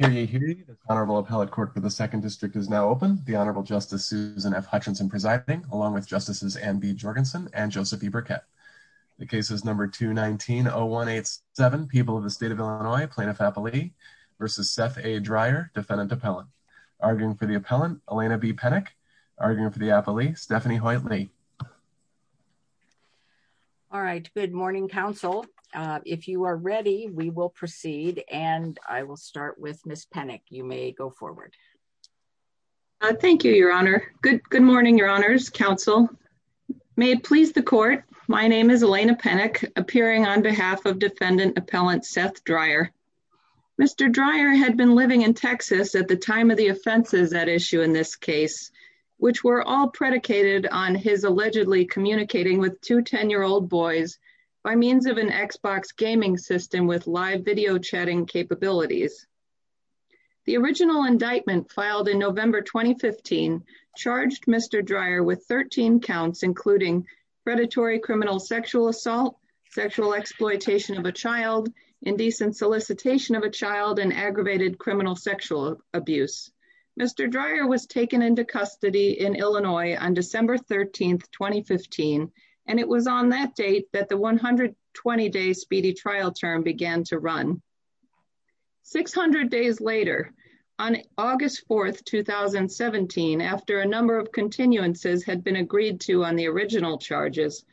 and Joseph E. Burkett. The case is number 219-0187, People of the State of Illinois, Plaintiff Appellee v. Seth A. Dryer, Defendant Appellant. Arguing for the Appellant, Elena B. Penick. Arguing for the Appellee, Stephanie Hoyt Lee. Good morning, Counsel. If you are ready, we will proceed. I will start with Ms. Penick. Thank you, Your Honor. Good morning, Your Honors, Counsel. May it please the Court, my name is Elena Penick, appearing on behalf of Defendant Appellant Seth Dryer. Mr. Dryer had been living in Texas at the time of the offenses at issue in this case, which were all predicated on his allegedly communicating with two 10-year-old boys by means of an Xbox gaming system with live video chatting capabilities. The original indictment filed in November 2015 charged Mr. Dryer with 13 counts including predatory criminal sexual assault, sexual exploitation of a child, indecent solicitation of a child, and aggravated criminal sexual abuse. Mr. Dryer was taken into custody in Illinois on December 13, 2015, and it was on that date that the 120-day speedy trial term began to run. Six hundred days later, on August 4, 2017, after a number of continuances had been agreed to on the original charges,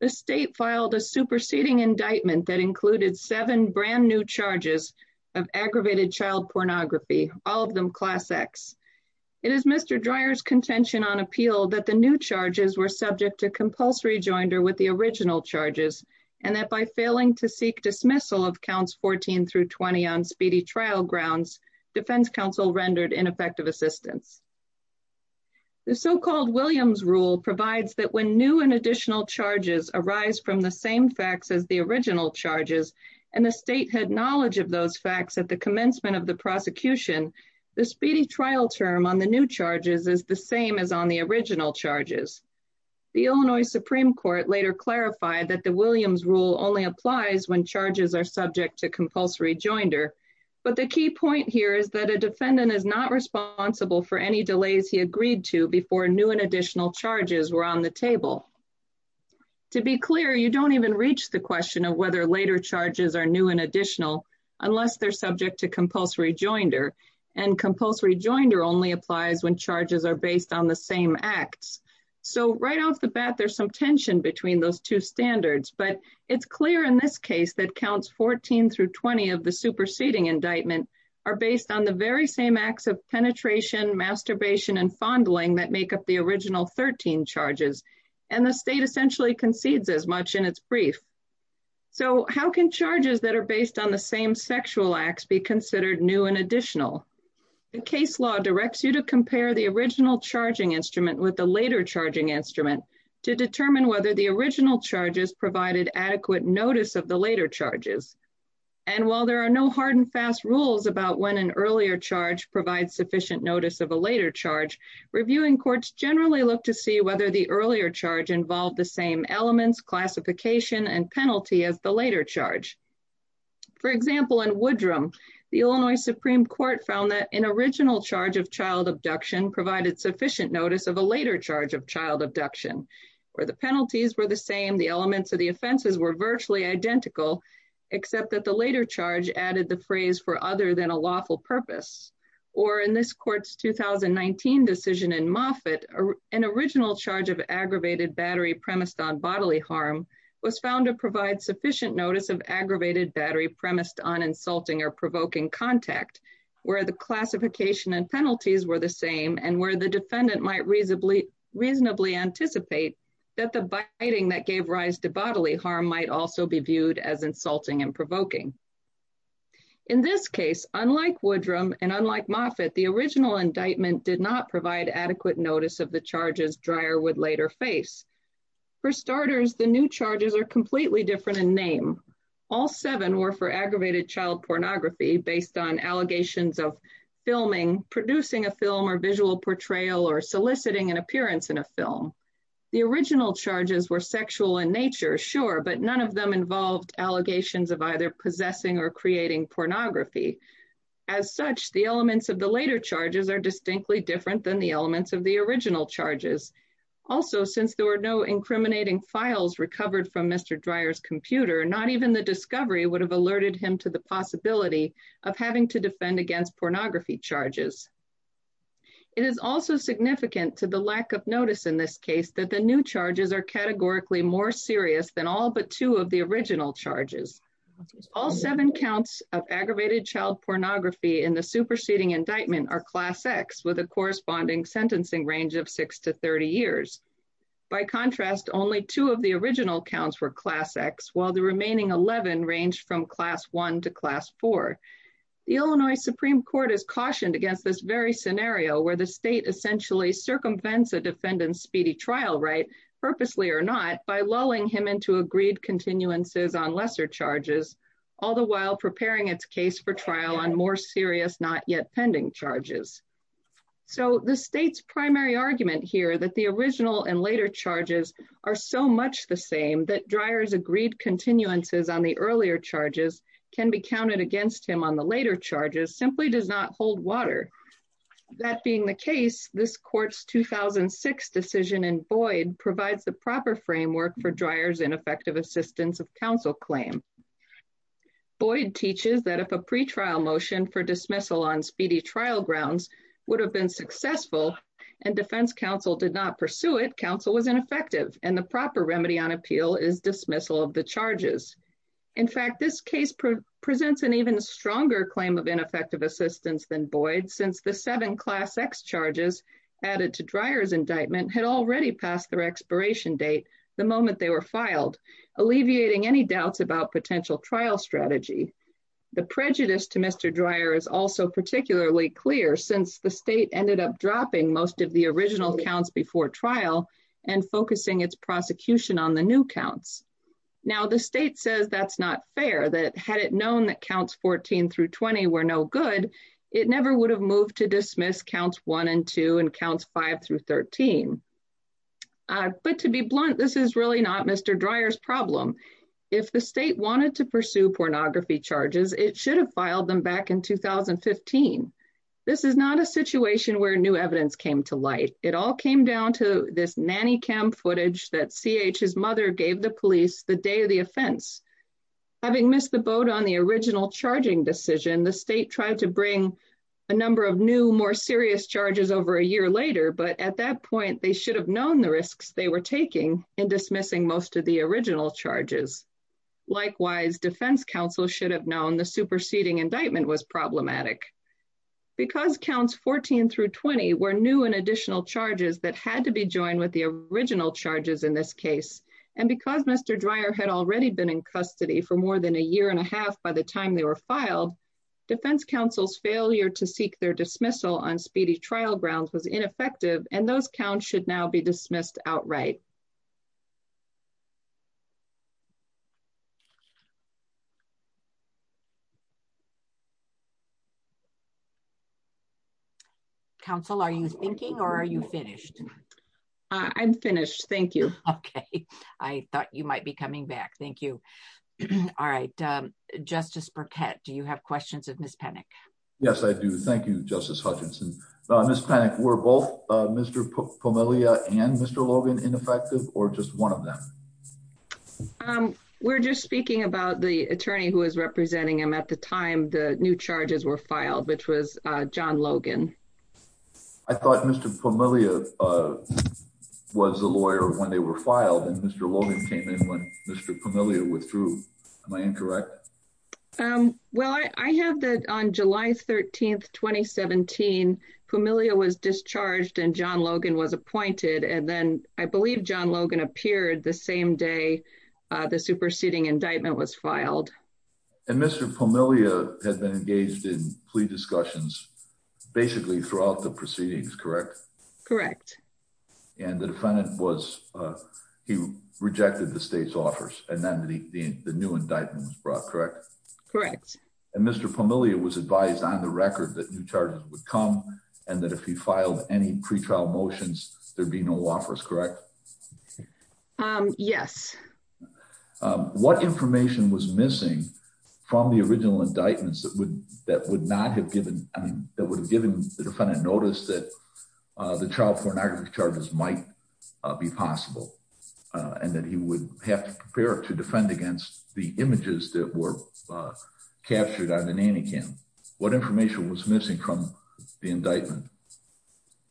the State filed a superseding indictment that included seven brand new charges of aggravated child pornography, all of them Class X. It is Mr. Dryer's contention on appeal that the new charges were subject to compulsory joinder with the original charges, and that by failing to seek dismissal of counts 14 through 20 on speedy trial grounds, Defense Counsel rendered ineffective assistance. The so-called Williams rule provides that when new and additional charges arise from the same facts as the original charges, and the State had knowledge of those facts at the commencement of the prosecution, the speedy trial term on the new charges is the same as on the original charges. The Illinois Supreme Court later clarified that the Williams rule only applies when charges are subject to compulsory joinder, but the key point here is that a defendant is not responsible for any delays he agreed to before new and additional charges were on the table. To be clear, you don't even reach the question of whether later charges are new and additional unless they're subject to compulsory joinder, and compulsory joinder only applies when charges are based on the same acts. So right off the bat, there's some tension between those two standards, but it's clear in this case that counts 14 through 20 of the superseding indictment are based on the very same acts of penetration, masturbation, and fondling that make up the original 13 charges, and the State essentially concedes as much in its brief. So how can charges that are based on the same sexual acts be considered new and additional? The case law directs you to compare the original charging instrument with the later charging instrument to determine whether the original charges provided adequate notice of the later charges. And while there are no hard and fast rules about when an earlier charge provides sufficient notice of a later charge, reviewing courts generally look to see whether the earlier charge involved the same elements, classification, and penalty as the later charge. For example, in Woodrum, the Illinois Supreme Court found that an original charge of child abduction provided sufficient notice of a later charge of child abduction, where the penalties were the same, the elements of the offenses were virtually identical, except that the later charge added the phrase for other than a lawful purpose. Or in this court's 2019 decision in Moffitt, an original charge of aggravated battery premised on bodily harm was found to provide sufficient notice of aggravated battery premised on insulting or provoking contact, where the classification and penalties were the same, and where the defendant might reasonably anticipate that the biting that gave rise to bodily harm might also be viewed as insulting and provoking. In this case, unlike Woodrum and unlike Moffitt, the original indictment did not provide adequate notice of the charges Dreyer would later face. For starters, the new charges are completely different in name. All seven were for aggravated child pornography based on allegations of filming, producing a film or visual portrayal, or soliciting an appearance in a film. The original charges were sexual in nature, sure, but none of them involved allegations of either possessing or creating pornography. As such, the elements of the later charges are distinctly different than the elements of the original charges. Also, since there were no incriminating files recovered from Mr. Dreyer's computer, not even the discovery would have alerted him to the possibility of having to defend against pornography charges. It is also significant to the lack of notice in this case that the new charges are categorically more serious than all but two of the original charges. All seven counts of aggravated child pornography in the superseding indictment are Class X with a corresponding sentencing range of six to 30 years. By contrast, only two of the original counts were Class X, while the remaining 11 range from Class 1 to Class 4. The Illinois Supreme Court has cautioned against this very scenario where the state essentially circumvents a defendant's speedy trial right, purposely or not, by lulling him into agreed continuances on lesser charges, all the while preparing its case for trial on more serious, not yet pending charges. So the state's primary argument here that the original and later charges are so much the same that Dreyer's agreed continuances on the earlier charges can be counted against him on the later charges simply does not hold water. That being the case, this court's 2006 decision in Boyd provides the proper framework for Dreyer's ineffective assistance of counsel claim. Boyd teaches that if a pretrial motion for dismissal on speedy trial grounds would have been successful and defense counsel did not pursue it, counsel was ineffective, and the proper remedy on appeal is dismissal of the charges. In fact, this case presents an even stronger claim of ineffective assistance than Boyd, since the seven Class X charges added to Dreyer's indictment had already passed their expiration date the moment they were filed, alleviating any doubts about potential trial strategy. The prejudice to Mr. Dreyer is also particularly clear, since the state ended up dropping most of the original counts before trial and focusing its prosecution on the new counts. Now, the state says that's not fair, that had it known that counts 14 through 20 were no good, it never would have moved to dismiss counts 1 and 2 and counts 5 through 13. But to be blunt, this is really not Mr. Dreyer's problem. If the state wanted to pursue pornography charges, it should have filed them back in 2015. This is not a situation where new evidence came to light. It all came down to this nanny cam footage that C.H.'s mother gave the police the day of the offense. Having missed the boat on the original charging decision, the state tried to bring a number of new, more serious charges over a year later, but at that point they should have known the risks they were taking in dismissing most of the original charges. Likewise, defense counsel should have known the superseding indictment was problematic. Because counts 14 through 20 were new and additional charges that had to be joined with the original charges in this case, and because Mr. Dreyer had already been in custody for more than a year and a half by the time they were filed, defense counsel's failure to seek their dismissal on speedy trial grounds was ineffective and those counts should now be dismissed outright. Counsel, are you thinking or are you finished? I'm finished. Thank you. Okay. I thought you might be coming back. Thank you. All right. Justice Burkett, do you have questions of Ms. Panik? Yes, I do. Thank you, Justice Hutchinson. Ms. Panik, were both Mr. Pomilia and Mr. Logan ineffective or just one of them? We're just speaking about the attorney who was representing him at the time the new charges were filed, which was John Logan. I thought Mr. Pomilia was the lawyer when they were filed and Mr. Logan came in when Mr. Pomilia withdrew. Am I incorrect? Well, I have that on July 13, 2017, Pomilia was discharged and John Logan was appointed. And then I believe John Logan appeared the same day the superseding indictment was filed. And Mr. Pomilia had been engaged in plea discussions basically throughout the proceedings, correct? Correct. And the defendant was, he rejected the state's offers and then the new indictment was brought, correct? Correct. And Mr. Pomilia was advised on the record that new charges would come and that if he filed any pretrial motions, there'd be no offers, correct? Yes. What information was missing from the original indictments that would not have given, that would have given the defendant notice that the child pornography charges might be possible? And that he would have to prepare to defend against the images that were captured on the nanny cam. What information was missing from the indictment,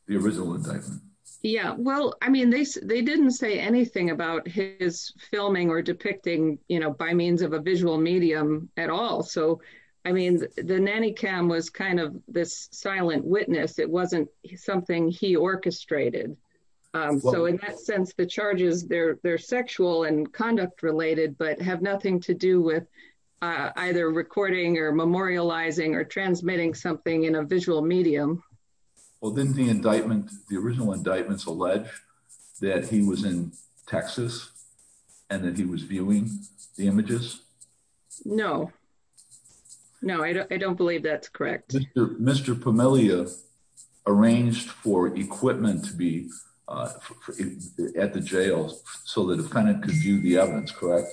the original indictment? Yeah, well, I mean, they didn't say anything about his filming or depicting, you know, by means of a visual medium at all. So, I mean, the nanny cam was kind of this silent witness. It wasn't something he orchestrated. So in that sense, the charges, they're sexual and conduct related, but have nothing to do with either recording or memorializing or transmitting something in a visual medium. Well, didn't the indictment, the original indictments allege that he was in Texas and that he was viewing the images? No. No, I don't believe that's correct. Mr. Pomilia arranged for equipment to be at the jail so the defendant could view the evidence, correct?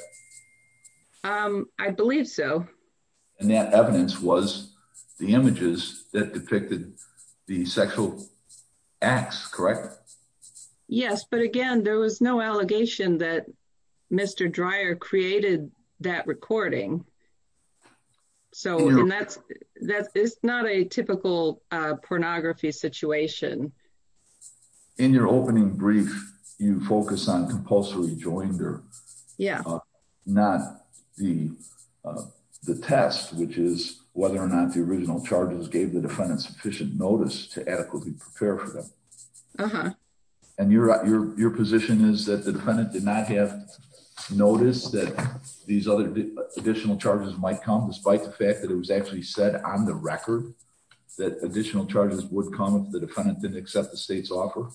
I believe so. And that evidence was the images that depicted the sexual acts, correct? Yes, but again, there was no allegation that Mr. Dreyer created that recording. So that's not a typical pornography situation. In your opening brief, you focus on compulsory joinder. Yeah. Not the test, which is whether or not the original charges gave the defendant sufficient notice to adequately prepare for them. And your position is that the defendant did not have notice that these other additional charges might come, despite the fact that it was actually said on the record that additional charges would come if the defendant didn't accept the state's offer?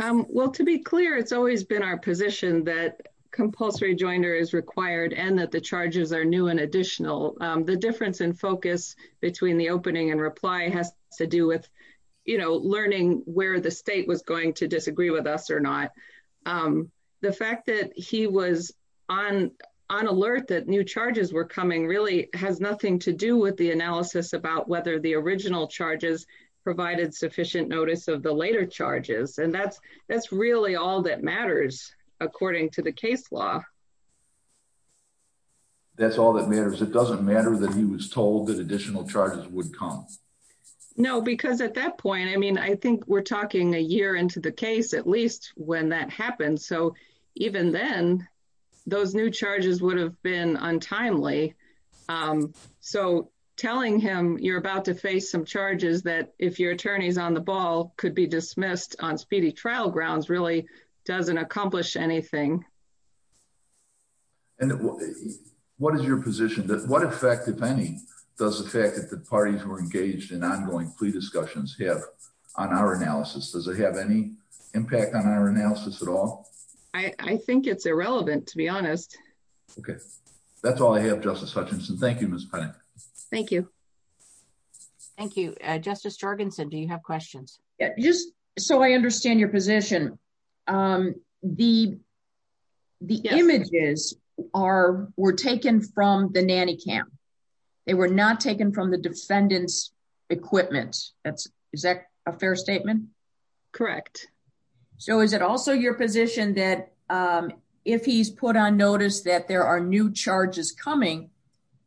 Well, to be clear, it's always been our position that compulsory joinder is required and that the charges are new and additional. The difference in focus between the opening and reply has to do with, you know, learning where the state was going to disagree with us or not. The fact that he was on alert that new charges were coming really has nothing to do with the analysis about whether the original charges provided sufficient notice of the later charges. And that's really all that matters, according to the case law. That's all that matters? It doesn't matter that he was told that additional charges would come? No, because at that point, I mean, I think we're talking a year into the case, at least when that happened. So even then, those new charges would have been untimely. So telling him you're about to face some charges that if your attorneys on the ball could be dismissed on speedy trial grounds really doesn't accomplish anything. And what is your position that what effect, if any, does the fact that the parties were engaged in ongoing plea discussions have on our analysis? Does it have any impact on our analysis at all? I think it's irrelevant, to be honest. Okay, that's all I have, Justice Hutchinson. Thank you, Ms. Penning. Thank you. Thank you, Justice Jorgensen. Do you have questions? Just so I understand your position, the images were taken from the nanny cam. They were not taken from the defendant's equipment. Is that a fair statement? Correct. So is it also your position that if he's put on notice that there are new charges coming,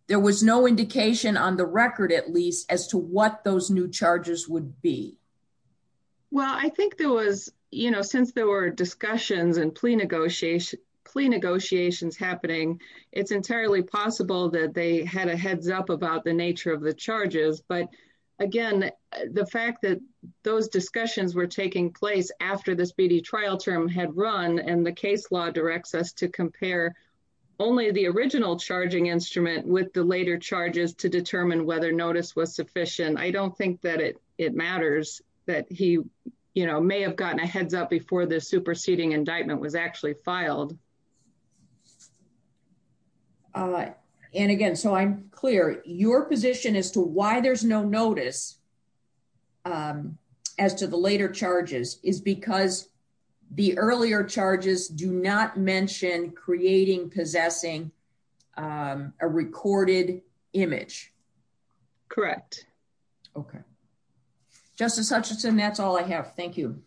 there was no indication on the record, at least, as to what those new charges would be? Well, I think there was, you know, since there were discussions and plea negotiations happening, it's entirely possible that they had a heads up about the nature of the charges. But, again, the fact that those discussions were taking place after the speedy trial term had run and the case law directs us to compare only the original charging instrument with the later charges to determine whether notice was sufficient. I don't think that it matters that he, you know, may have gotten a heads up before the superseding indictment was actually filed. And, again, so I'm clear, your position as to why there's no notice as to the later charges is because the earlier charges do not mention creating, possessing a recorded image. Correct. Okay. Justice Hutchinson, that's all I have. Thank you.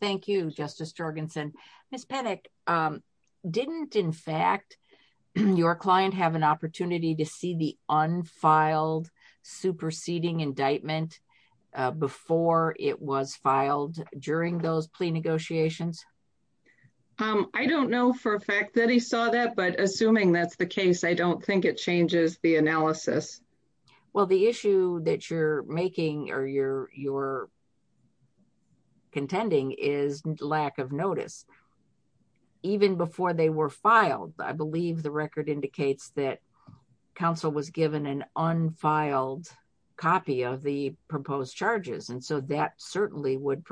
Thank you, Justice Jorgensen. Ms. Pettigrew, didn't, in fact, your client have an opportunity to see the unfiled superseding indictment before it was filed during those plea negotiations? I don't know for a fact that he saw that, but assuming that's the case, I don't think it changes the analysis. Well, the issue that you're making or you're contending is lack of notice. Even before they were filed, I believe the record indicates that counsel was given an unfiled copy of the proposed charges and so that certainly would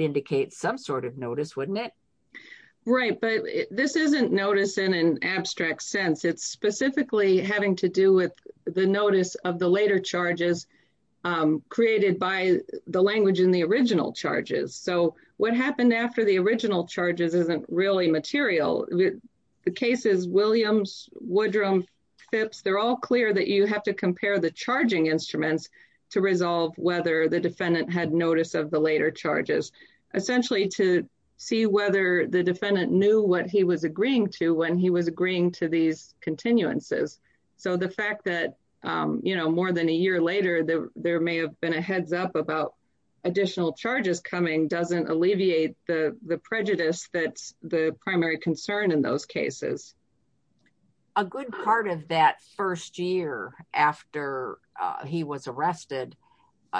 indicate some sort of notice, wouldn't it? Right, but this isn't notice in an abstract sense. It's specifically having to do with the notice of the later charges created by the language in the original charges. So what happened after the original charges isn't really material. The cases, Williams, Woodrum, Phipps, they're all clear that you have to compare the charging instruments to resolve whether the defendant had notice of the later charges, essentially to see whether the defendant knew what he was agreeing to when he was agreeing to these continuances. So the fact that more than a year later, there may have been a heads up about additional charges coming doesn't alleviate the prejudice that's the primary concern in those cases. A good part of that first year after he was arrested,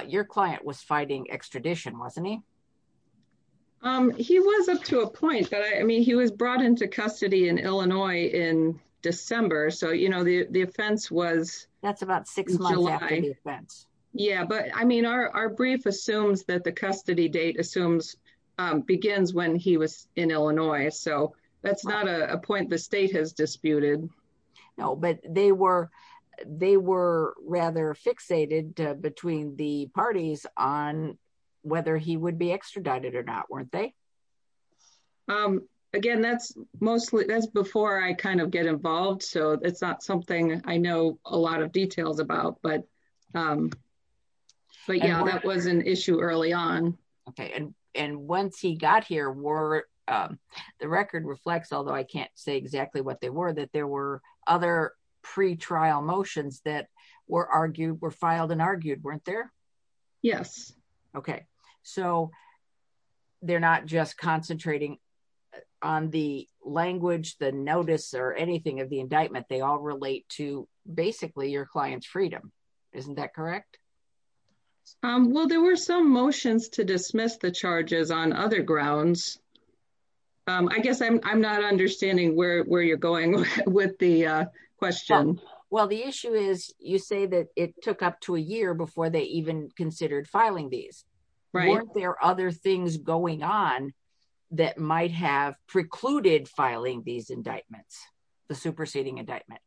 your client was fighting extradition, wasn't he? He was up to a point that I mean he was brought into custody in Illinois in December, so you know the offense was... That's about six months after the offense. Yeah, but I mean our brief assumes that the custody date assumes begins when he was in Illinois, so that's not a point the state has disputed. No, but they were rather fixated between the parties on whether he would be extradited or not, weren't they? Again, that's mostly that's before I kind of get involved so it's not something I know a lot of details about but yeah that was an issue early on. Okay, and once he got here were the record reflects although I can't say exactly what they were that there were other pre trial motions that were argued were filed and argued weren't there? Yes. Okay, so they're not just concentrating on the language the notice or anything of the indictment they all relate to basically your client's freedom. Isn't that correct? Well, there were some motions to dismiss the charges on other grounds. I guess I'm not understanding where you're going with the question. Well, the issue is you say that it took up to a year before they even considered filing these. Right. Weren't there other things going on that might have precluded filing these indictments, the superseding indictment?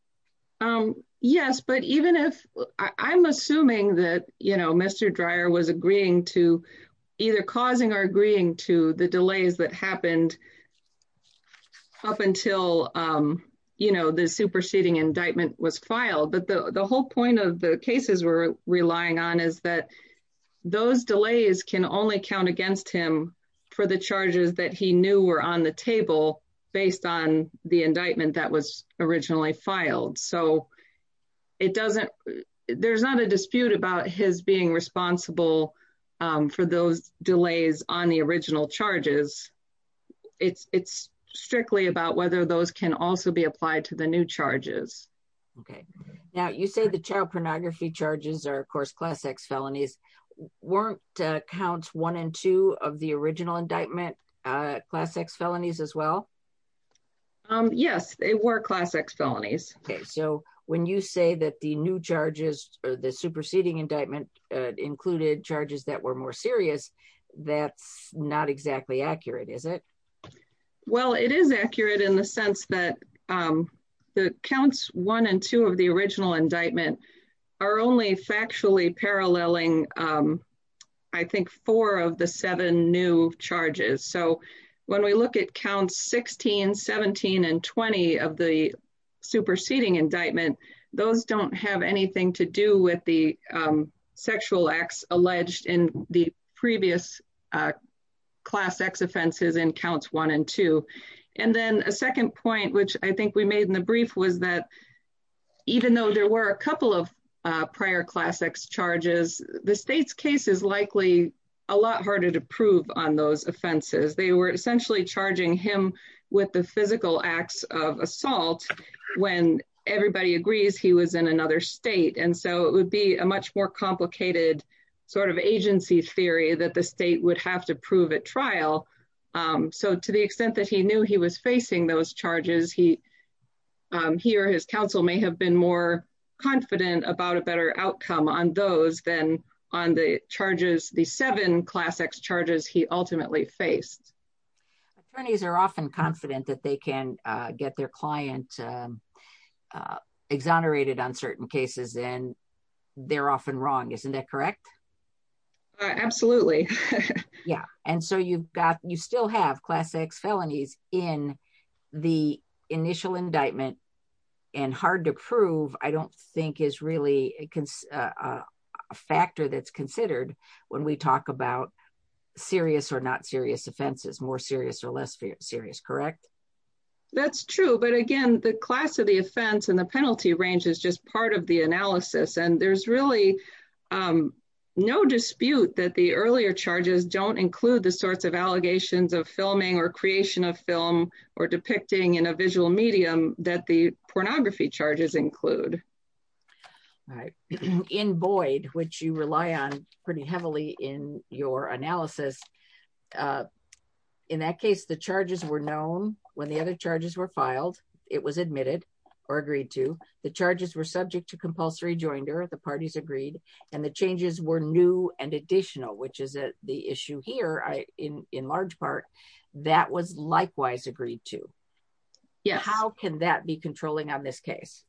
Yes, but even if I'm assuming that you know Mr. Dreier was agreeing to either causing or agreeing to the delays that happened up until you know the superseding indictment was filed but the whole point of the cases were relying on is that those delays can only count against him for the charges that he knew were on the table, based on the indictment that was originally filed. So it doesn't, there's not a dispute about his being responsible for those delays on the original charges. It's strictly about whether those can also be applied to the new charges. Okay. Now you say the child pornography charges are of course class X felonies weren't counts one and two of the original indictment class X felonies as well. Yes, they were class X felonies. Okay, so when you say that the new charges for the superseding indictment included charges that were more serious. That's not exactly accurate is it. Well, it is accurate in the sense that the counts one and two of the original indictment are only factually paralleling. I think four of the seven new charges. So when we look at count 1617 and 20 of the superseding indictment. Those don't have anything to do with the sexual acts alleged in the previous class X offenses and counts one and two. And then a second point which I think we made in the brief was that even though there were a couple of prior class X charges, the state's case is likely a lot harder to prove on those offenses, they were essentially charging him with the physical acts of assault. When everybody agrees he was in another state and so it would be a much more complicated sort of agency theory that the state would have to prove at trial. So to the extent that he knew he was facing those charges he he or his counsel may have been more confident about a better outcome on those than on the charges, the seven class X charges he ultimately faced attorneys are often confident that they can get their client exonerated on certain cases and they're often wrong. Isn't that correct. Absolutely. Yeah. And so you've got you still have class X felonies in the initial indictment and hard to prove I don't think is really a factor that's considered when we talk about serious or not serious offenses more serious or less serious. Correct. That's true. But again, the class of the offense and the penalty range is just part of the analysis and there's really no dispute that the earlier charges don't include the sorts of allegations of filming or creation of film or depicting in a visual medium that the pornography charges include Right in Boyd, which you rely on pretty heavily in your analysis. In that case, the charges were known when the other charges were filed, it was admitted or agreed to the charges were subject to compulsory joinder the parties agreed and the changes were new and additional which is the issue here I in in large part, that was likewise agreed to. Yeah, how can that be controlling on this case.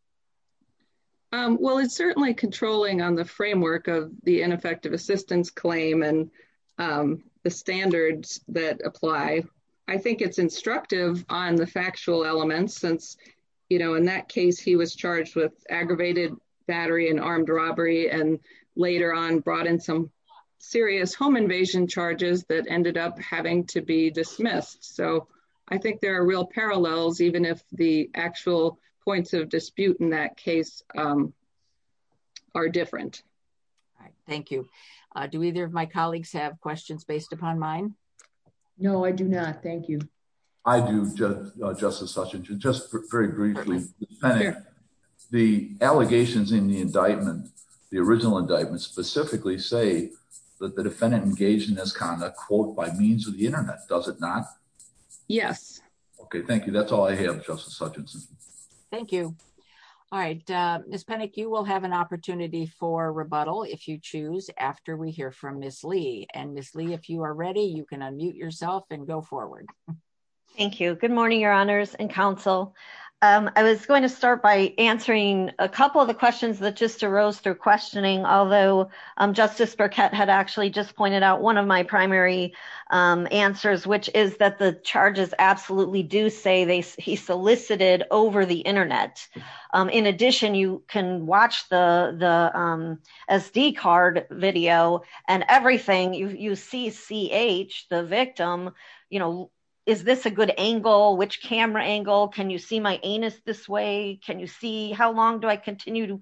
Well, it's certainly controlling on the framework of the ineffective assistance claim and the standards that apply. I think it's instructive on the factual elements since You know, in that case he was charged with aggravated battery and armed robbery and later on brought in some serious home invasion charges that ended up having to be dismissed. So I think there are real parallels, even if the actual points of dispute in that case are different. Thank you. Do either of my colleagues have questions based upon mine. No, I do not. Thank you. I do just justice such and just very briefly. The allegations in the indictment. The original indictment specifically say that the defendant engaged in this kind of quote by means of the internet, does it not. Yes. Okay, thank you. That's all I have. Justice Hutchinson. Thank you. All right, Miss panic, you will have an opportunity for rebuttal if you choose after we hear from Miss Lee and Miss Lee if you are ready, you can unmute yourself and go forward. Thank you. Good morning, Your Honors and counsel. I was going to start by answering a couple of the questions that just arose through questioning, although Justice Burkett had actually just pointed out one of my primary answers, which is that the charges absolutely do say they he solicited over the internet. In addition, you can watch the SD card video and everything you see ch the victim, you know, is this a good angle which camera angle Can you see my anus this way. Can you see how long do I continue to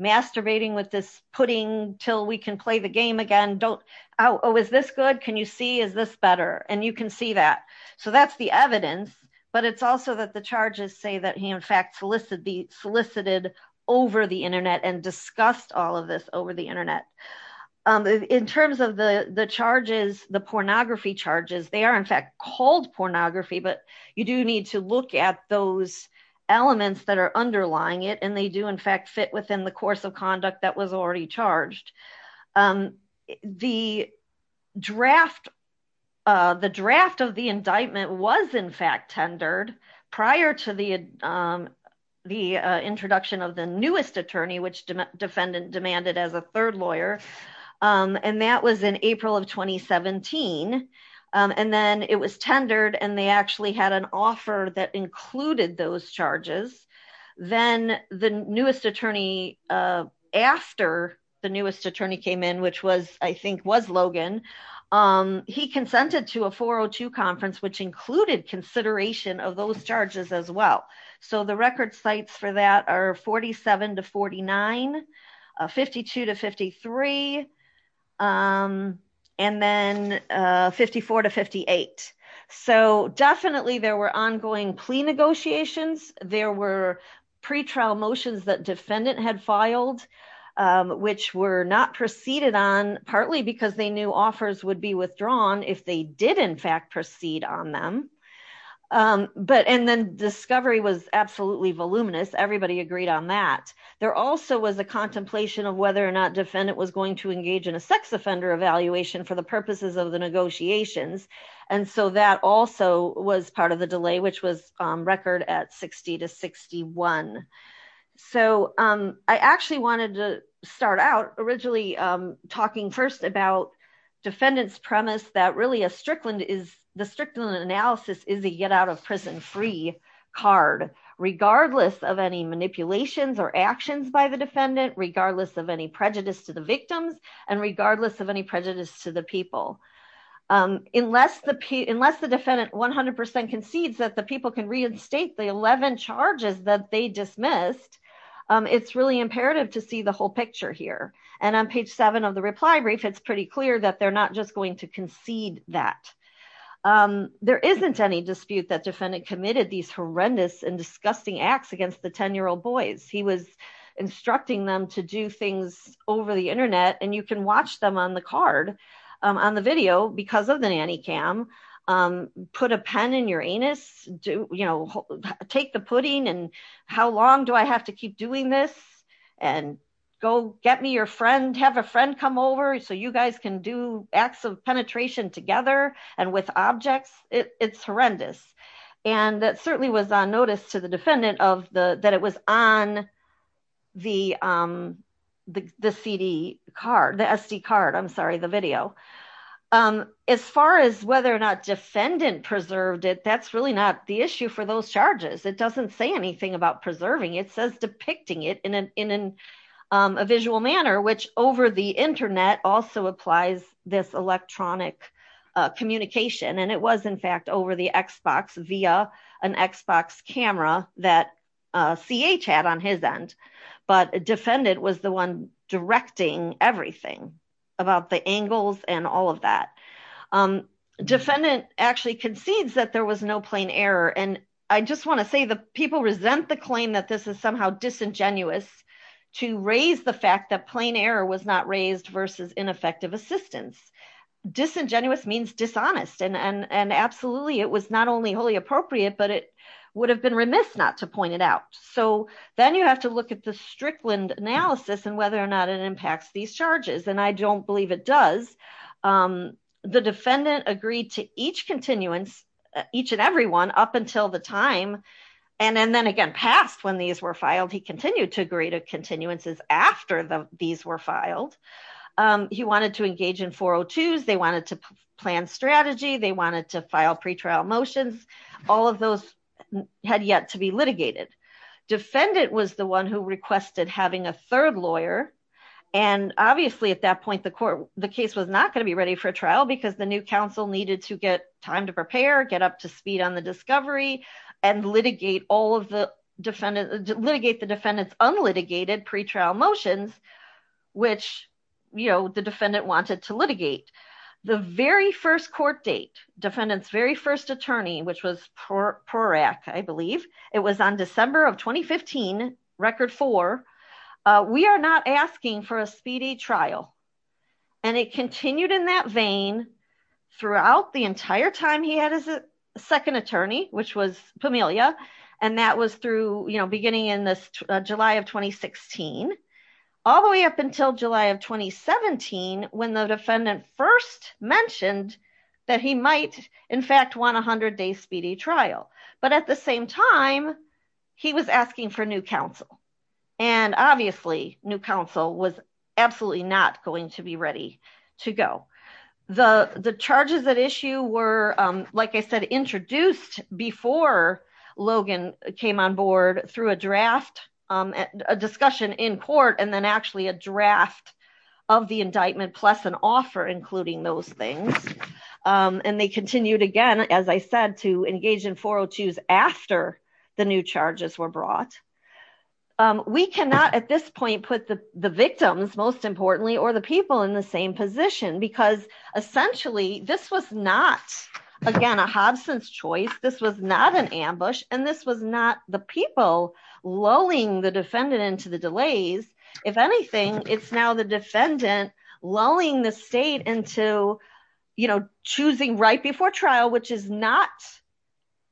masturbating with this pudding till we can play the game again don't always this good Can you see is this better and you can see that. So that's the evidence, but it's also that the charges say that he in fact solicit be solicited over the internet and discussed all of this over the internet. In terms of the the charges, the pornography charges they are in fact called pornography but you do need to look at those elements that are underlying it and they do in fact fit within the course of conduct that was already charged. The draft, the draft of the indictment was in fact tendered prior to the, the introduction of the newest attorney which defendant demanded as a third lawyer. And that was in April of 2017. And then it was tendered and they actually had an offer that included those charges. Then the newest attorney. After the newest attorney came in, which was, I think was Logan. He consented to a 402 conference which included consideration of those charges as well. So the record sites for that are 47 to 4952 to 53. And then 54 to 58. So definitely there were ongoing plea negotiations, there were pre trial motions that defendant had filed, which were not proceeded on partly because they knew offers would be withdrawn if they did in fact proceed on them. But and then discovery was absolutely voluminous everybody agreed on that. There also was a contemplation of whether or not defendant was going to engage in a sex offender evaluation for the purposes of the negotiations. And so that also was part of the delay which was record at 60 to 61. So, I actually wanted to start out originally talking first about defendants premise that really a Strickland is the Strickland analysis is a get out of prison free card, regardless of any manipulations or actions by the defendant, regardless of any prejudice to the victims, and regardless of any prejudice to the people. Unless the unless the defendant 100% concedes that the people can reinstate the 11 charges that they dismissed. It's really imperative to see the whole picture here. And on page seven of the reply brief, it's pretty clear that they're not just going to concede that There isn't any dispute that defendant committed these horrendous and disgusting acts against the 10 year old boys, he was instructing them to do things over the internet and you can watch them on the card on the video because of the nanny cam. put a pen in your anus, do you know, take the pudding and how long do I have to keep doing this, and go get me your friend have a friend come over so you guys can do acts of penetration together, and with objects, it's horrendous. And that certainly was on notice to the defendant of the that it was on the, the CD card the SD card I'm sorry the video. As far as whether or not defendant preserved it that's really not the issue for those charges it doesn't say anything about preserving it says depicting it in an in a visual manner which over the internet also applies this electronic communication and it was in fact over the Xbox via an Xbox camera that CH had on his end. But defendant was the one directing everything about the angles and all of that. Defendant actually concedes that there was no plain error and I just want to say the people resent the claim that this is somehow disingenuous to raise the fact that plain error was not raised versus ineffective assistance disingenuous means dishonest and and and absolutely it was not only wholly appropriate but it would have been remiss not to point it out. So, then you have to look at the Strickland analysis and whether or not it impacts these charges and I don't believe it does. The defendant agreed to each continuance each and every one up until the time. And then again past when these were filed he continued to agree to continuances after these were filed. He wanted to engage in 402s they wanted to plan strategy they wanted to file pretrial motions, all of those had yet to be litigated. Defendant was the one who requested having a third lawyer. And obviously at that point the court, the case was not going to be ready for trial because the new counsel needed to get time to prepare get up to speed on the discovery and litigate all of the defendants litigate the defendants unlitigated pretrial motions, which, you know, the defendant wanted to litigate. The very first court date defendants very first attorney, which was Prorak, I believe it was on December of 2015 record four. We are not asking for a speedy trial, and it continued in that vein throughout the entire time he had his second attorney, which was Pamelia, and that was through, you know, beginning in this July of 2016, all the way up until July of 2017, when the defendant first mentioned that he might in fact want 100 days speedy trial, but at the same time, he was asking for new counsel. And obviously, new counsel was absolutely not going to be ready to go. The, the charges at issue were, like I said, introduced before Logan came on board through a draft discussion in court and then actually a draft of the indictment plus an offer including those things. And they continued again, as I said to engage in 402s after the new charges were brought. We cannot at this point put the victims, most importantly, or the people in the same position because essentially this was not, again, a Hobson's choice, this was not an ambush, and this was not the people lulling the defendant into the delays. If anything, it's now the defendant lulling the state into, you know, choosing right before trial, which is not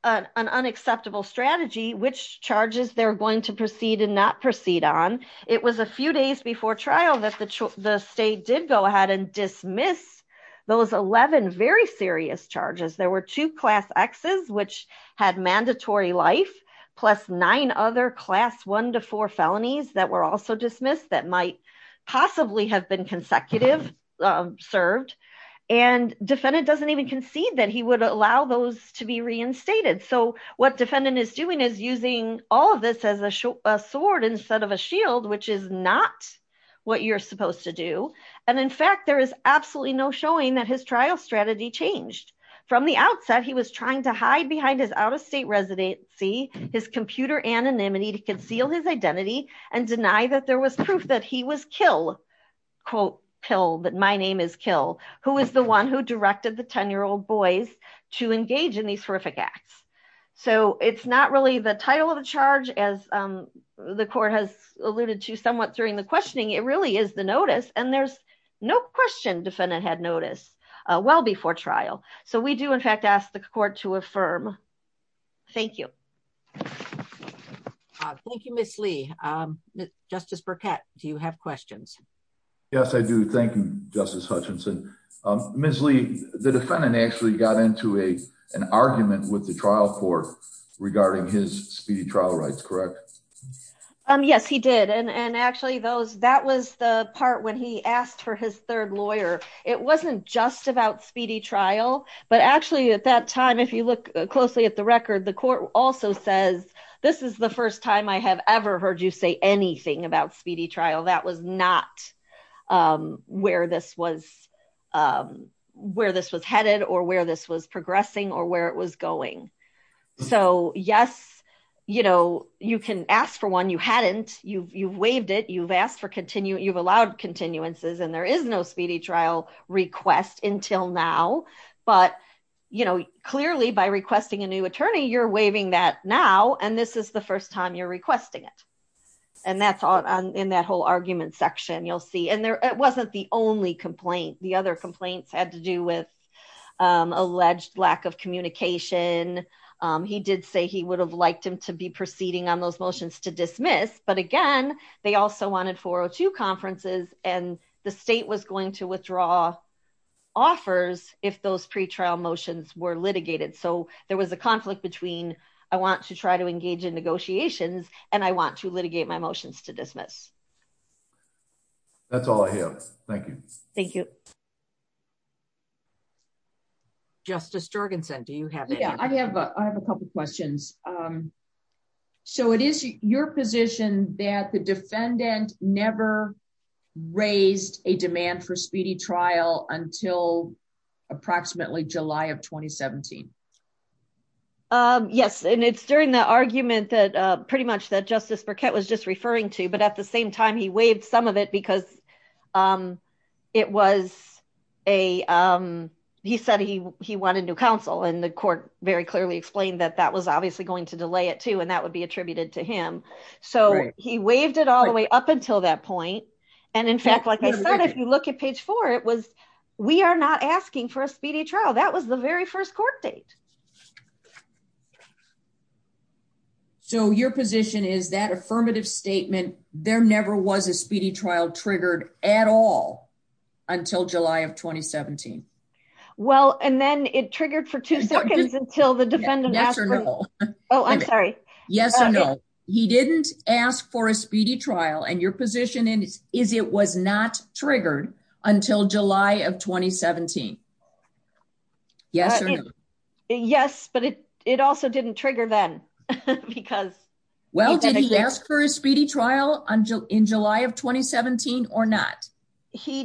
an unacceptable strategy, which charges they're going to proceed and not proceed on. It was a few days before trial that the state did go ahead and dismiss those 11 very serious charges. There were two class X's, which had mandatory life, plus nine other class one to four felonies that were also dismissed that might possibly have been consecutive served, and defendant doesn't even concede that he would allow those to be reinstated. So what defendant is doing is using all of this as a sword instead of a shield, which is not what you're supposed to do. And in fact, there is absolutely no showing that his trial strategy changed. From the outset, he was trying to hide behind his out-of-state residency, his computer anonymity to conceal his identity and deny that there was proof that he was kill, quote, kill, that my name is kill, who is the one who directed the 10-year-old boys to engage in these horrific acts. So it's not really the title of the charge, as the court has alluded to somewhat during the questioning, it really is the notice and there's no question defendant had notice well before trial. So we do in fact ask the court to affirm. Thank you. Thank you, Miss Lee. Justice Burkett, do you have questions? Yes, I do. Thank you, Justice Hutchinson. Miss Lee, the defendant actually got into an argument with the trial court regarding his speedy trial rights, correct? Yes, he did. And actually, that was the part when he asked for his third lawyer. It wasn't just about speedy trial. But actually, at that time, if you look closely at the record, the court also says, this is the first time I have ever heard you say anything about speedy trial. That was not where this was headed or where this was progressing or where it was going. So yes, you know, you can ask for one you hadn't, you've waived it, you've asked for continuing, you've allowed continuances, and there is no speedy trial request until now. But, you know, clearly by requesting a new attorney, you're waiving that now, and this is the first time you're requesting it. And that's all in that whole argument section, you'll see. And it wasn't the only complaint. The other complaints had to do with alleged lack of communication. He did say he would have liked him to be proceeding on those motions to dismiss. But again, they also wanted 402 conferences, and the state was going to withdraw offers if those pretrial motions were litigated. So there was a conflict between, I want to try to engage in negotiations, and I want to litigate my motions to dismiss. That's all I have. Thank you. Thank you. Justice Jorgensen, do you have it. Yeah, I have, I have a couple questions. So it is your position that the defendant never raised a demand for speedy trial until approximately July of 2017. Yes, and it's during the argument that pretty much that Justice Burkett was just referring to, but at the same time he waived some of it because it was a, he said he wanted new counsel and the court very clearly explained that that was obviously going to delay it too and that would be attributed to him. So he waived it all the way up until that point. And in fact, like I said, if you look at page four, it was, we are not asking for a speedy trial that was the very first court date. So your position is that affirmative statement, there never was a speedy trial triggered at all until July of 2017. Well, and then it triggered for two seconds until the defendant. Oh, I'm sorry. Yes or no, he didn't ask for a speedy trial and your position is, is it was not triggered until July of 2017. Yes or no. Yes, but it, it also didn't trigger them because Well, did he ask for a speedy trial until in July of 2017 or not,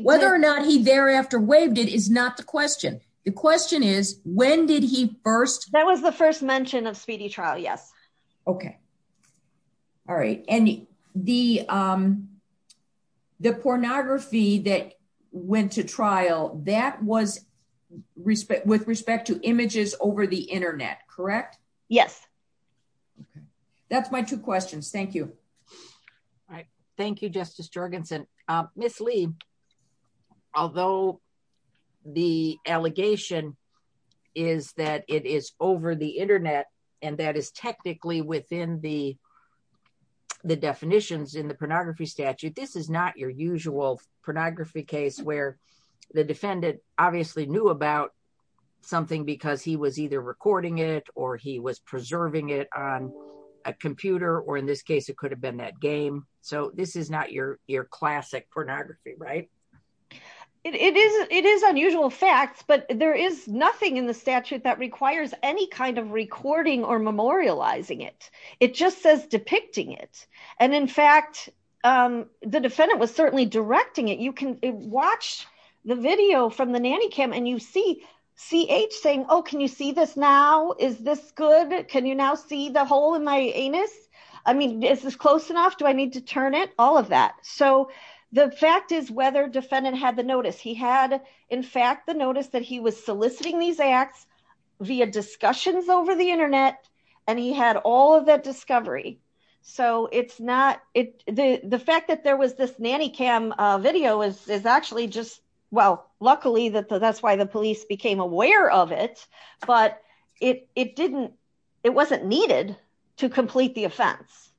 whether or not he thereafter waived it is not the question. The question is, when did he first. That was the first mention of speedy trial. Yes. Okay. All right. And the, the pornography that went to trial that was respect with respect to images over the internet. Correct. Yes. That's my two questions. Thank you. All right. Thank you, Justice Jorgensen, Miss Lee. Although the allegation is that it is over the internet, and that is technically within the, the definitions in the pornography statute. This is not your usual pornography case where The defendant obviously knew about something because he was either recording it or he was preserving it on a computer or in this case, it could have been that game. So this is not your, your classic pornography. Right. It is, it is unusual facts, but there is nothing in the statute that requires any kind of recording or memorializing it. It just says depicting it. And in fact, the defendant was certainly directing it. You can watch the video from the nanny cam and you see CH saying, Oh, can you see this now? Is this good? Can you now see the hole in my anus? I mean, is this close enough? Do I need to turn it? All of that. So the fact is whether defendant had the notice. He had, in fact, the notice that he was soliciting these acts via discussions over the internet. And he had all of that discovery. So it's not it. The fact that there was this nanny cam video is actually just, well, luckily that that's why the police became aware of it. But it, it didn't, it wasn't needed to complete the offense.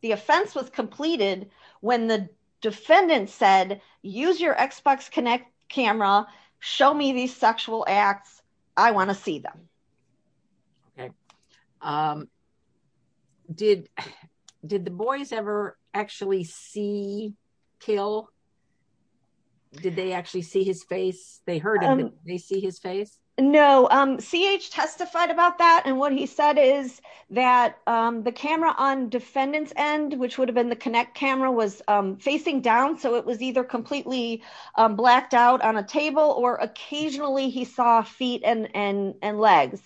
The offense was completed when the defendant said, use your Xbox Kinect camera, show me these sexual acts. I want to see them. Okay. Did, did the boys ever actually see Kill? Did they actually see his face? They heard him, did they see his face? No, CH testified about that. And what he said is that the camera on defendant's end, which would have been the Kinect camera was facing down. So it was either completely blacked out on a table or occasionally he saw feet and, and, and legs.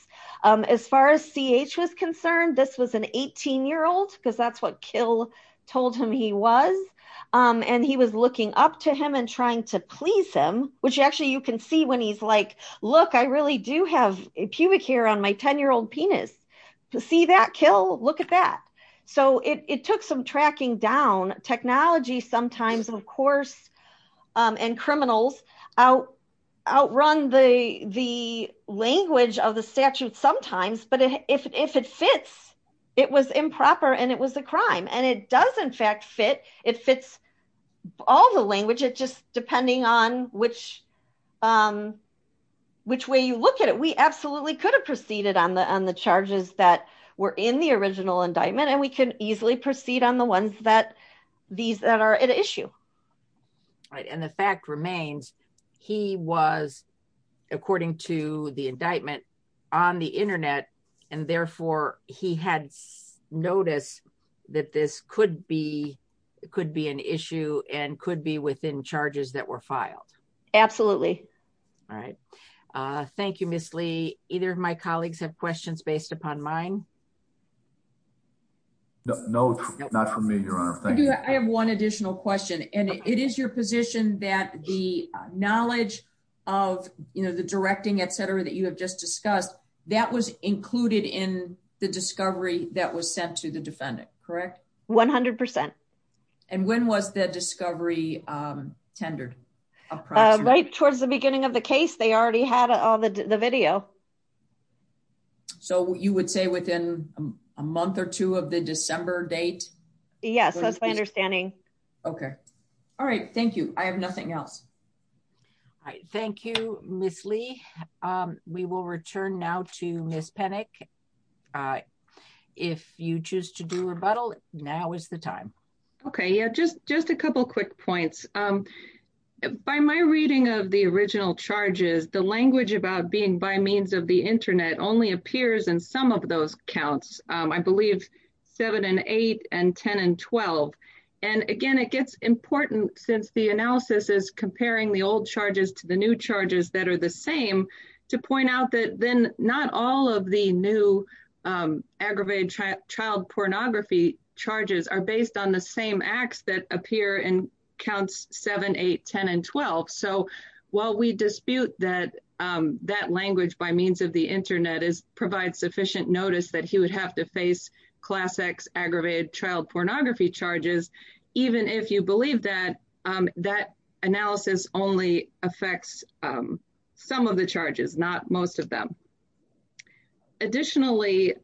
As far as CH was concerned, this was an 18 year old, because that's what Kill told him he was. And he was looking up to him and trying to please him, which actually you can see when he's like, look, I really do have a pubic hair on my 10 year old penis. See that Kill? Look at that. So it took some tracking down technology sometimes, of course, and criminals out, outrun the, the language of the statute sometimes, but if it fits, it was improper and it was a crime and it does in fact fit. It fits all the language. It just, depending on which, which way you look at it, we absolutely could have proceeded on the, on the charges that were in the original indictment and we can easily proceed on the ones that these that are at issue. Right. And the fact remains, he was, according to the indictment on the internet, and therefore he had noticed that this could be, could be an issue and could be within charges that were filed. Absolutely. All right. Thank you, Miss Lee. Either of my colleagues have questions based upon mine. No, not for me, Your Honor. I have one additional question and it is your position that the knowledge of, you know, the directing, etc, that you have just discussed, that was included in the discovery that was sent to the defendant, correct? 100%. And when was the discovery tendered? Right towards the beginning of the case, they already had all the video. So you would say within a month or two of the December date? Yes, that's my understanding. Okay. All right, thank you. I have nothing else. Thank you, Miss Lee. We will return now to Miss Penick. If you choose to do rebuttal, now is the time. Okay, yeah, just just a couple quick points. By my reading of the original charges, the language about being by means of the internet only appears in some of those counts, I believe, seven and eight and 10 and 12. And again, it gets important since the analysis is comparing the old charges to the new charges that are the same, to point out that then not all of the new aggravated child pornography charges are based on the same acts that appear in counts seven, eight, 10 and 12. So while we dispute that, that language by means of the internet is provide sufficient notice that he would have to face class X aggravated child pornography charges, even if you believe that that analysis only affects some of the charges, not most of them. Additionally,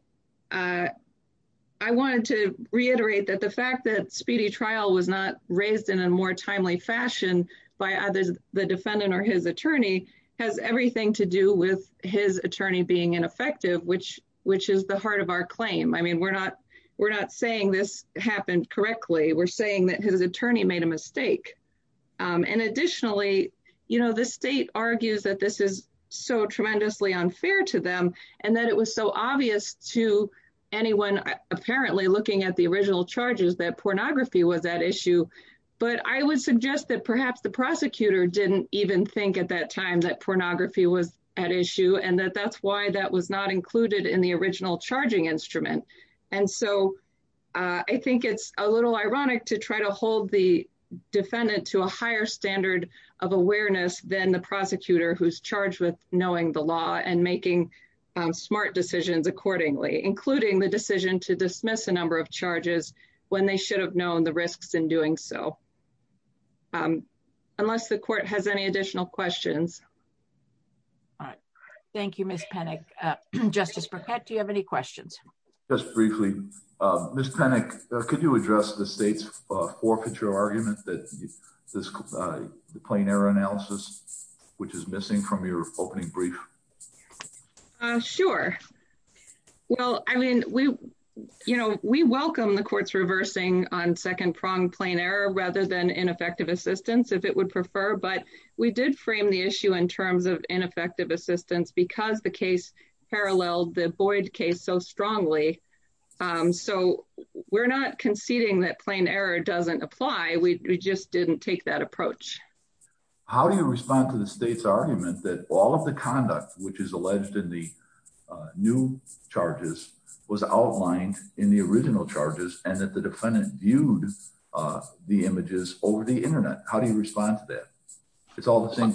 I wanted to reiterate that the fact that speedy trial was not raised in a more timely fashion by others, the defendant or his attorney has everything to do with his attorney being ineffective which which is the heart of our claim I mean we're not we're not saying this happened correctly we're saying that his attorney made a mistake. And additionally, you know, the state argues that this is so tremendously unfair to them, and that it was so obvious to anyone, apparently looking at the original charges that pornography was that issue. But I would suggest that perhaps the prosecutor didn't even think at that time that pornography was at issue and that that's why that was not included in the original charging instrument. And so I think it's a little ironic to try to hold the defendant to a higher standard of awareness than the prosecutor who's charged with knowing the law and making smart decisions accordingly, including the decision to dismiss a number of charges, when they should have known the risks in doing so. Unless the court has any additional questions. All right. Thank you, Miss panic. Justice Burkett Do you have any questions. Just briefly, Miss panic. Could you address the state's forfeiture argument that this plane error analysis, which is missing from your opening brief. Sure. Well, I mean, we, you know, we welcome the courts reversing on second prong plane error rather than ineffective assistance if it would prefer but we did frame the issue in terms of ineffective assistance because the case parallel the void case so strongly. So, we're not conceding that plane error doesn't apply we just didn't take that approach. How do you respond to the state's argument that all of the conduct, which is alleged in the new charges was outlined in the original charges and that the defendant viewed the images over the internet. How do you respond to that. It's all the same.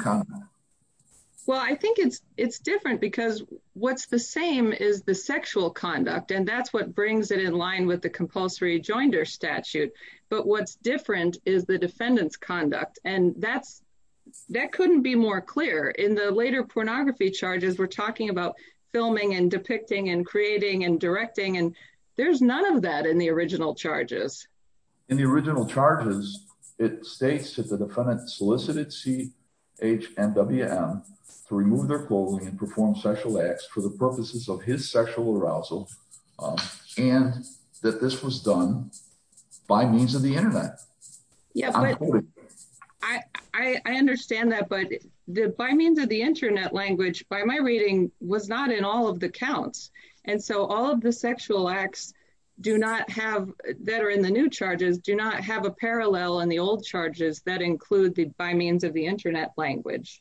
Well, I think it's, it's different because what's the same is the sexual conduct and that's what brings it in line with the compulsory joinder statute, but what's different is the defendants conduct and that's that couldn't be more clear in the later pornography charges we're talking about filming and depicting and creating and directing and there's none of that in the original charges. In the original charges, it states that the defendant solicited CH and WM to remove their clothing and perform sexual acts for the purposes of his sexual arousal. And that this was done by means of the internet. Yeah, I understand that but did by means of the internet language by my reading was not in all of the accounts. And so all of the sexual acts, do not have that are in the new charges do not have a parallel and the old charges that include the by means of the internet language.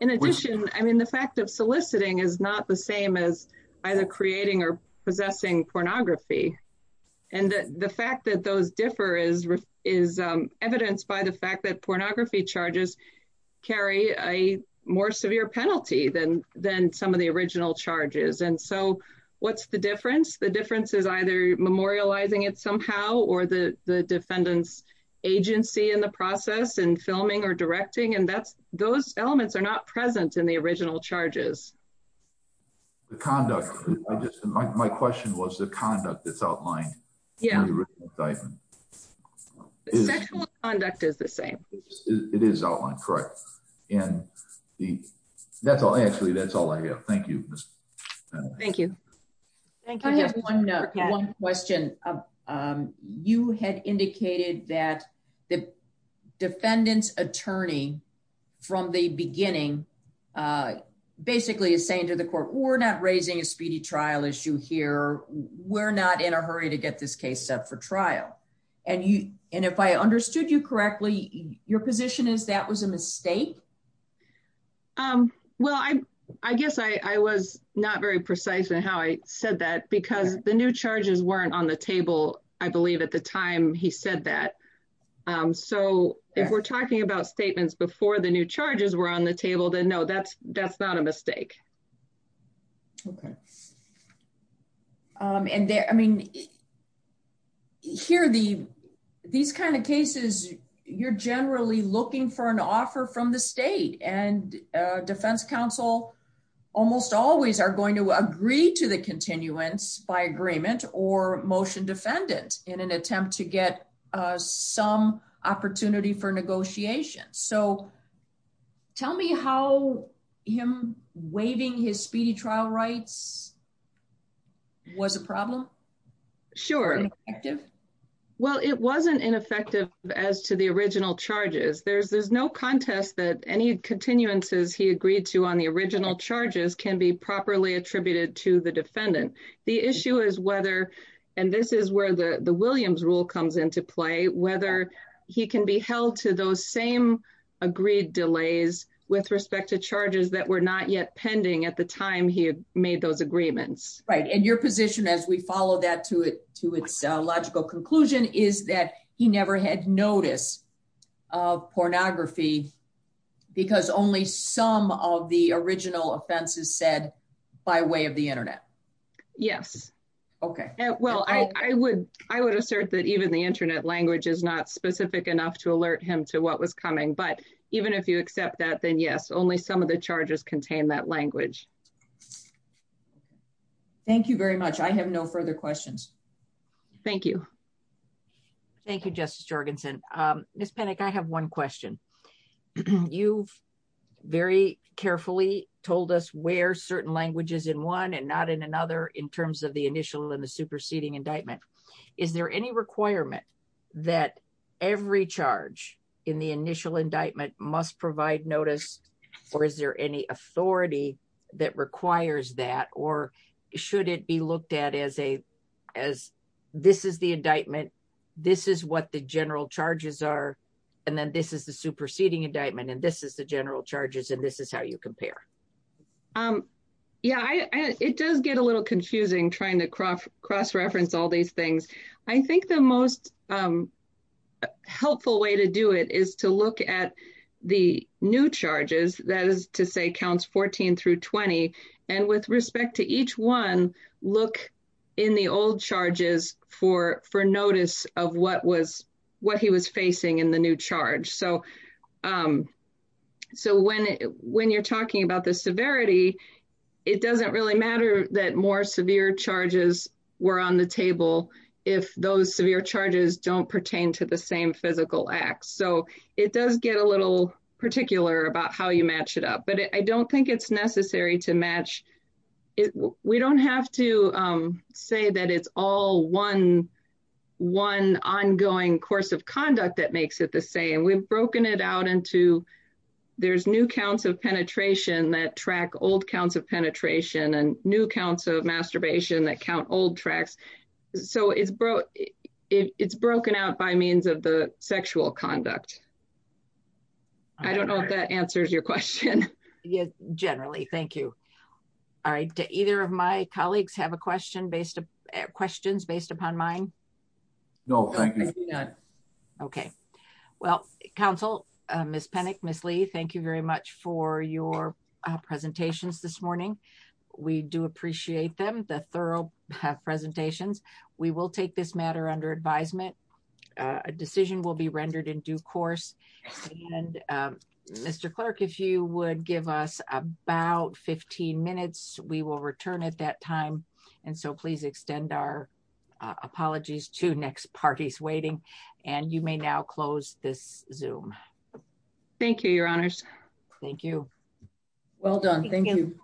In addition, I mean the fact of soliciting is not the same as either creating or possessing pornography, and the fact that those differ is is evidenced by the fact that pornography charges, carry a more severe penalty than, than some of the original elements are not present in the original charges. The conduct. My question was the conduct that's outlined. Yeah. Conduct is the same. It is all incorrect. And that's all actually that's all I have. Thank you. Thank you. Thank you. One question of you had indicated that the defendants attorney. From the beginning, basically is saying to the court, we're not raising a speedy trial issue here, we're not in a hurry to get this case up for trial. And you, and if I understood you correctly, your position is that was a mistake. Um, well I, I guess I was not very precise and how I said that because the new charges weren't on the table, I believe at the time he said that. So, if we're talking about statements before the new charges were on the table then no that's, that's not a mistake. Okay. And there, I mean, here the these kind of cases, you're generally looking for an offer from the state and Defense Council, almost always are going to agree to the continuance by agreement or motion defendant in an attempt to get some opportunity for negotiation So, tell me how him waving his speedy trial rights was a problem. Sure. Well, it wasn't ineffective, as to the original charges there's there's no contest that any continuances he agreed to on the original charges can be properly attributed to the defendant. The issue is whether, and this is where the the Williams rule comes into play, whether he can be held to those same agreed delays, with respect to charges that were not yet pending at the time he made those agreements, right and your position as we follow that to it to its logical conclusion is that he never had notice of pornography, because only some of the original offenses said by way of the internet. Yes. Okay, well I would, I would assert that even the internet language is not specific enough to alert him to what was coming but even if you accept that then yes only some of the charges contain that language. Thank you very much. I have no further questions. Thank you. Thank you, Justice Jorgensen. Miss panic I have one question. You very carefully told us where certain languages in one and not in another in terms of the initial in the superseding indictment. Is there any requirement that every charge in the initial indictment must provide notice, or is there any authority that requires that or should it be looked at as a, as this is the indictment. This is what the general charges are. And then this is the superseding indictment and this is the general charges and this is how you compare. Um, yeah, it does get a little confusing trying to cross cross reference all these things. I think the most helpful way to do it is to look at the new charges, that is to say counts 14 through 20. And with respect to each one. Look in the old charges for for notice of what was what he was facing in the new charge so so when when you're talking about the severity. It doesn't really matter that more severe charges were on the table. If those severe charges don't pertain to the same physical acts so it does get a little particular about how you match it up but I don't think it's necessary to match it. We don't have to say that it's all one, one ongoing course of conduct that makes it the same we've broken it out into. There's new counts of penetration that track old counts of penetration and new counts of masturbation that count old tracks. So it's broke. It's broken out by means of the sexual conduct. I don't know if that answers your question. Yeah, generally, thank you. All right, either of my colleagues have a question based on questions based upon mine. No. Okay. Well, Council Miss panic Miss Lee thank you very much for your presentations this morning. We do appreciate them the thorough have presentations, we will take this matter under advisement, a decision will be rendered in due course. And Mr. Clark if you would give us about 15 minutes, we will return at that time. And so please extend our apologies to next parties waiting, and you may now close this zoom. Thank you, Your Honors. Thank you. Well done. Thank you.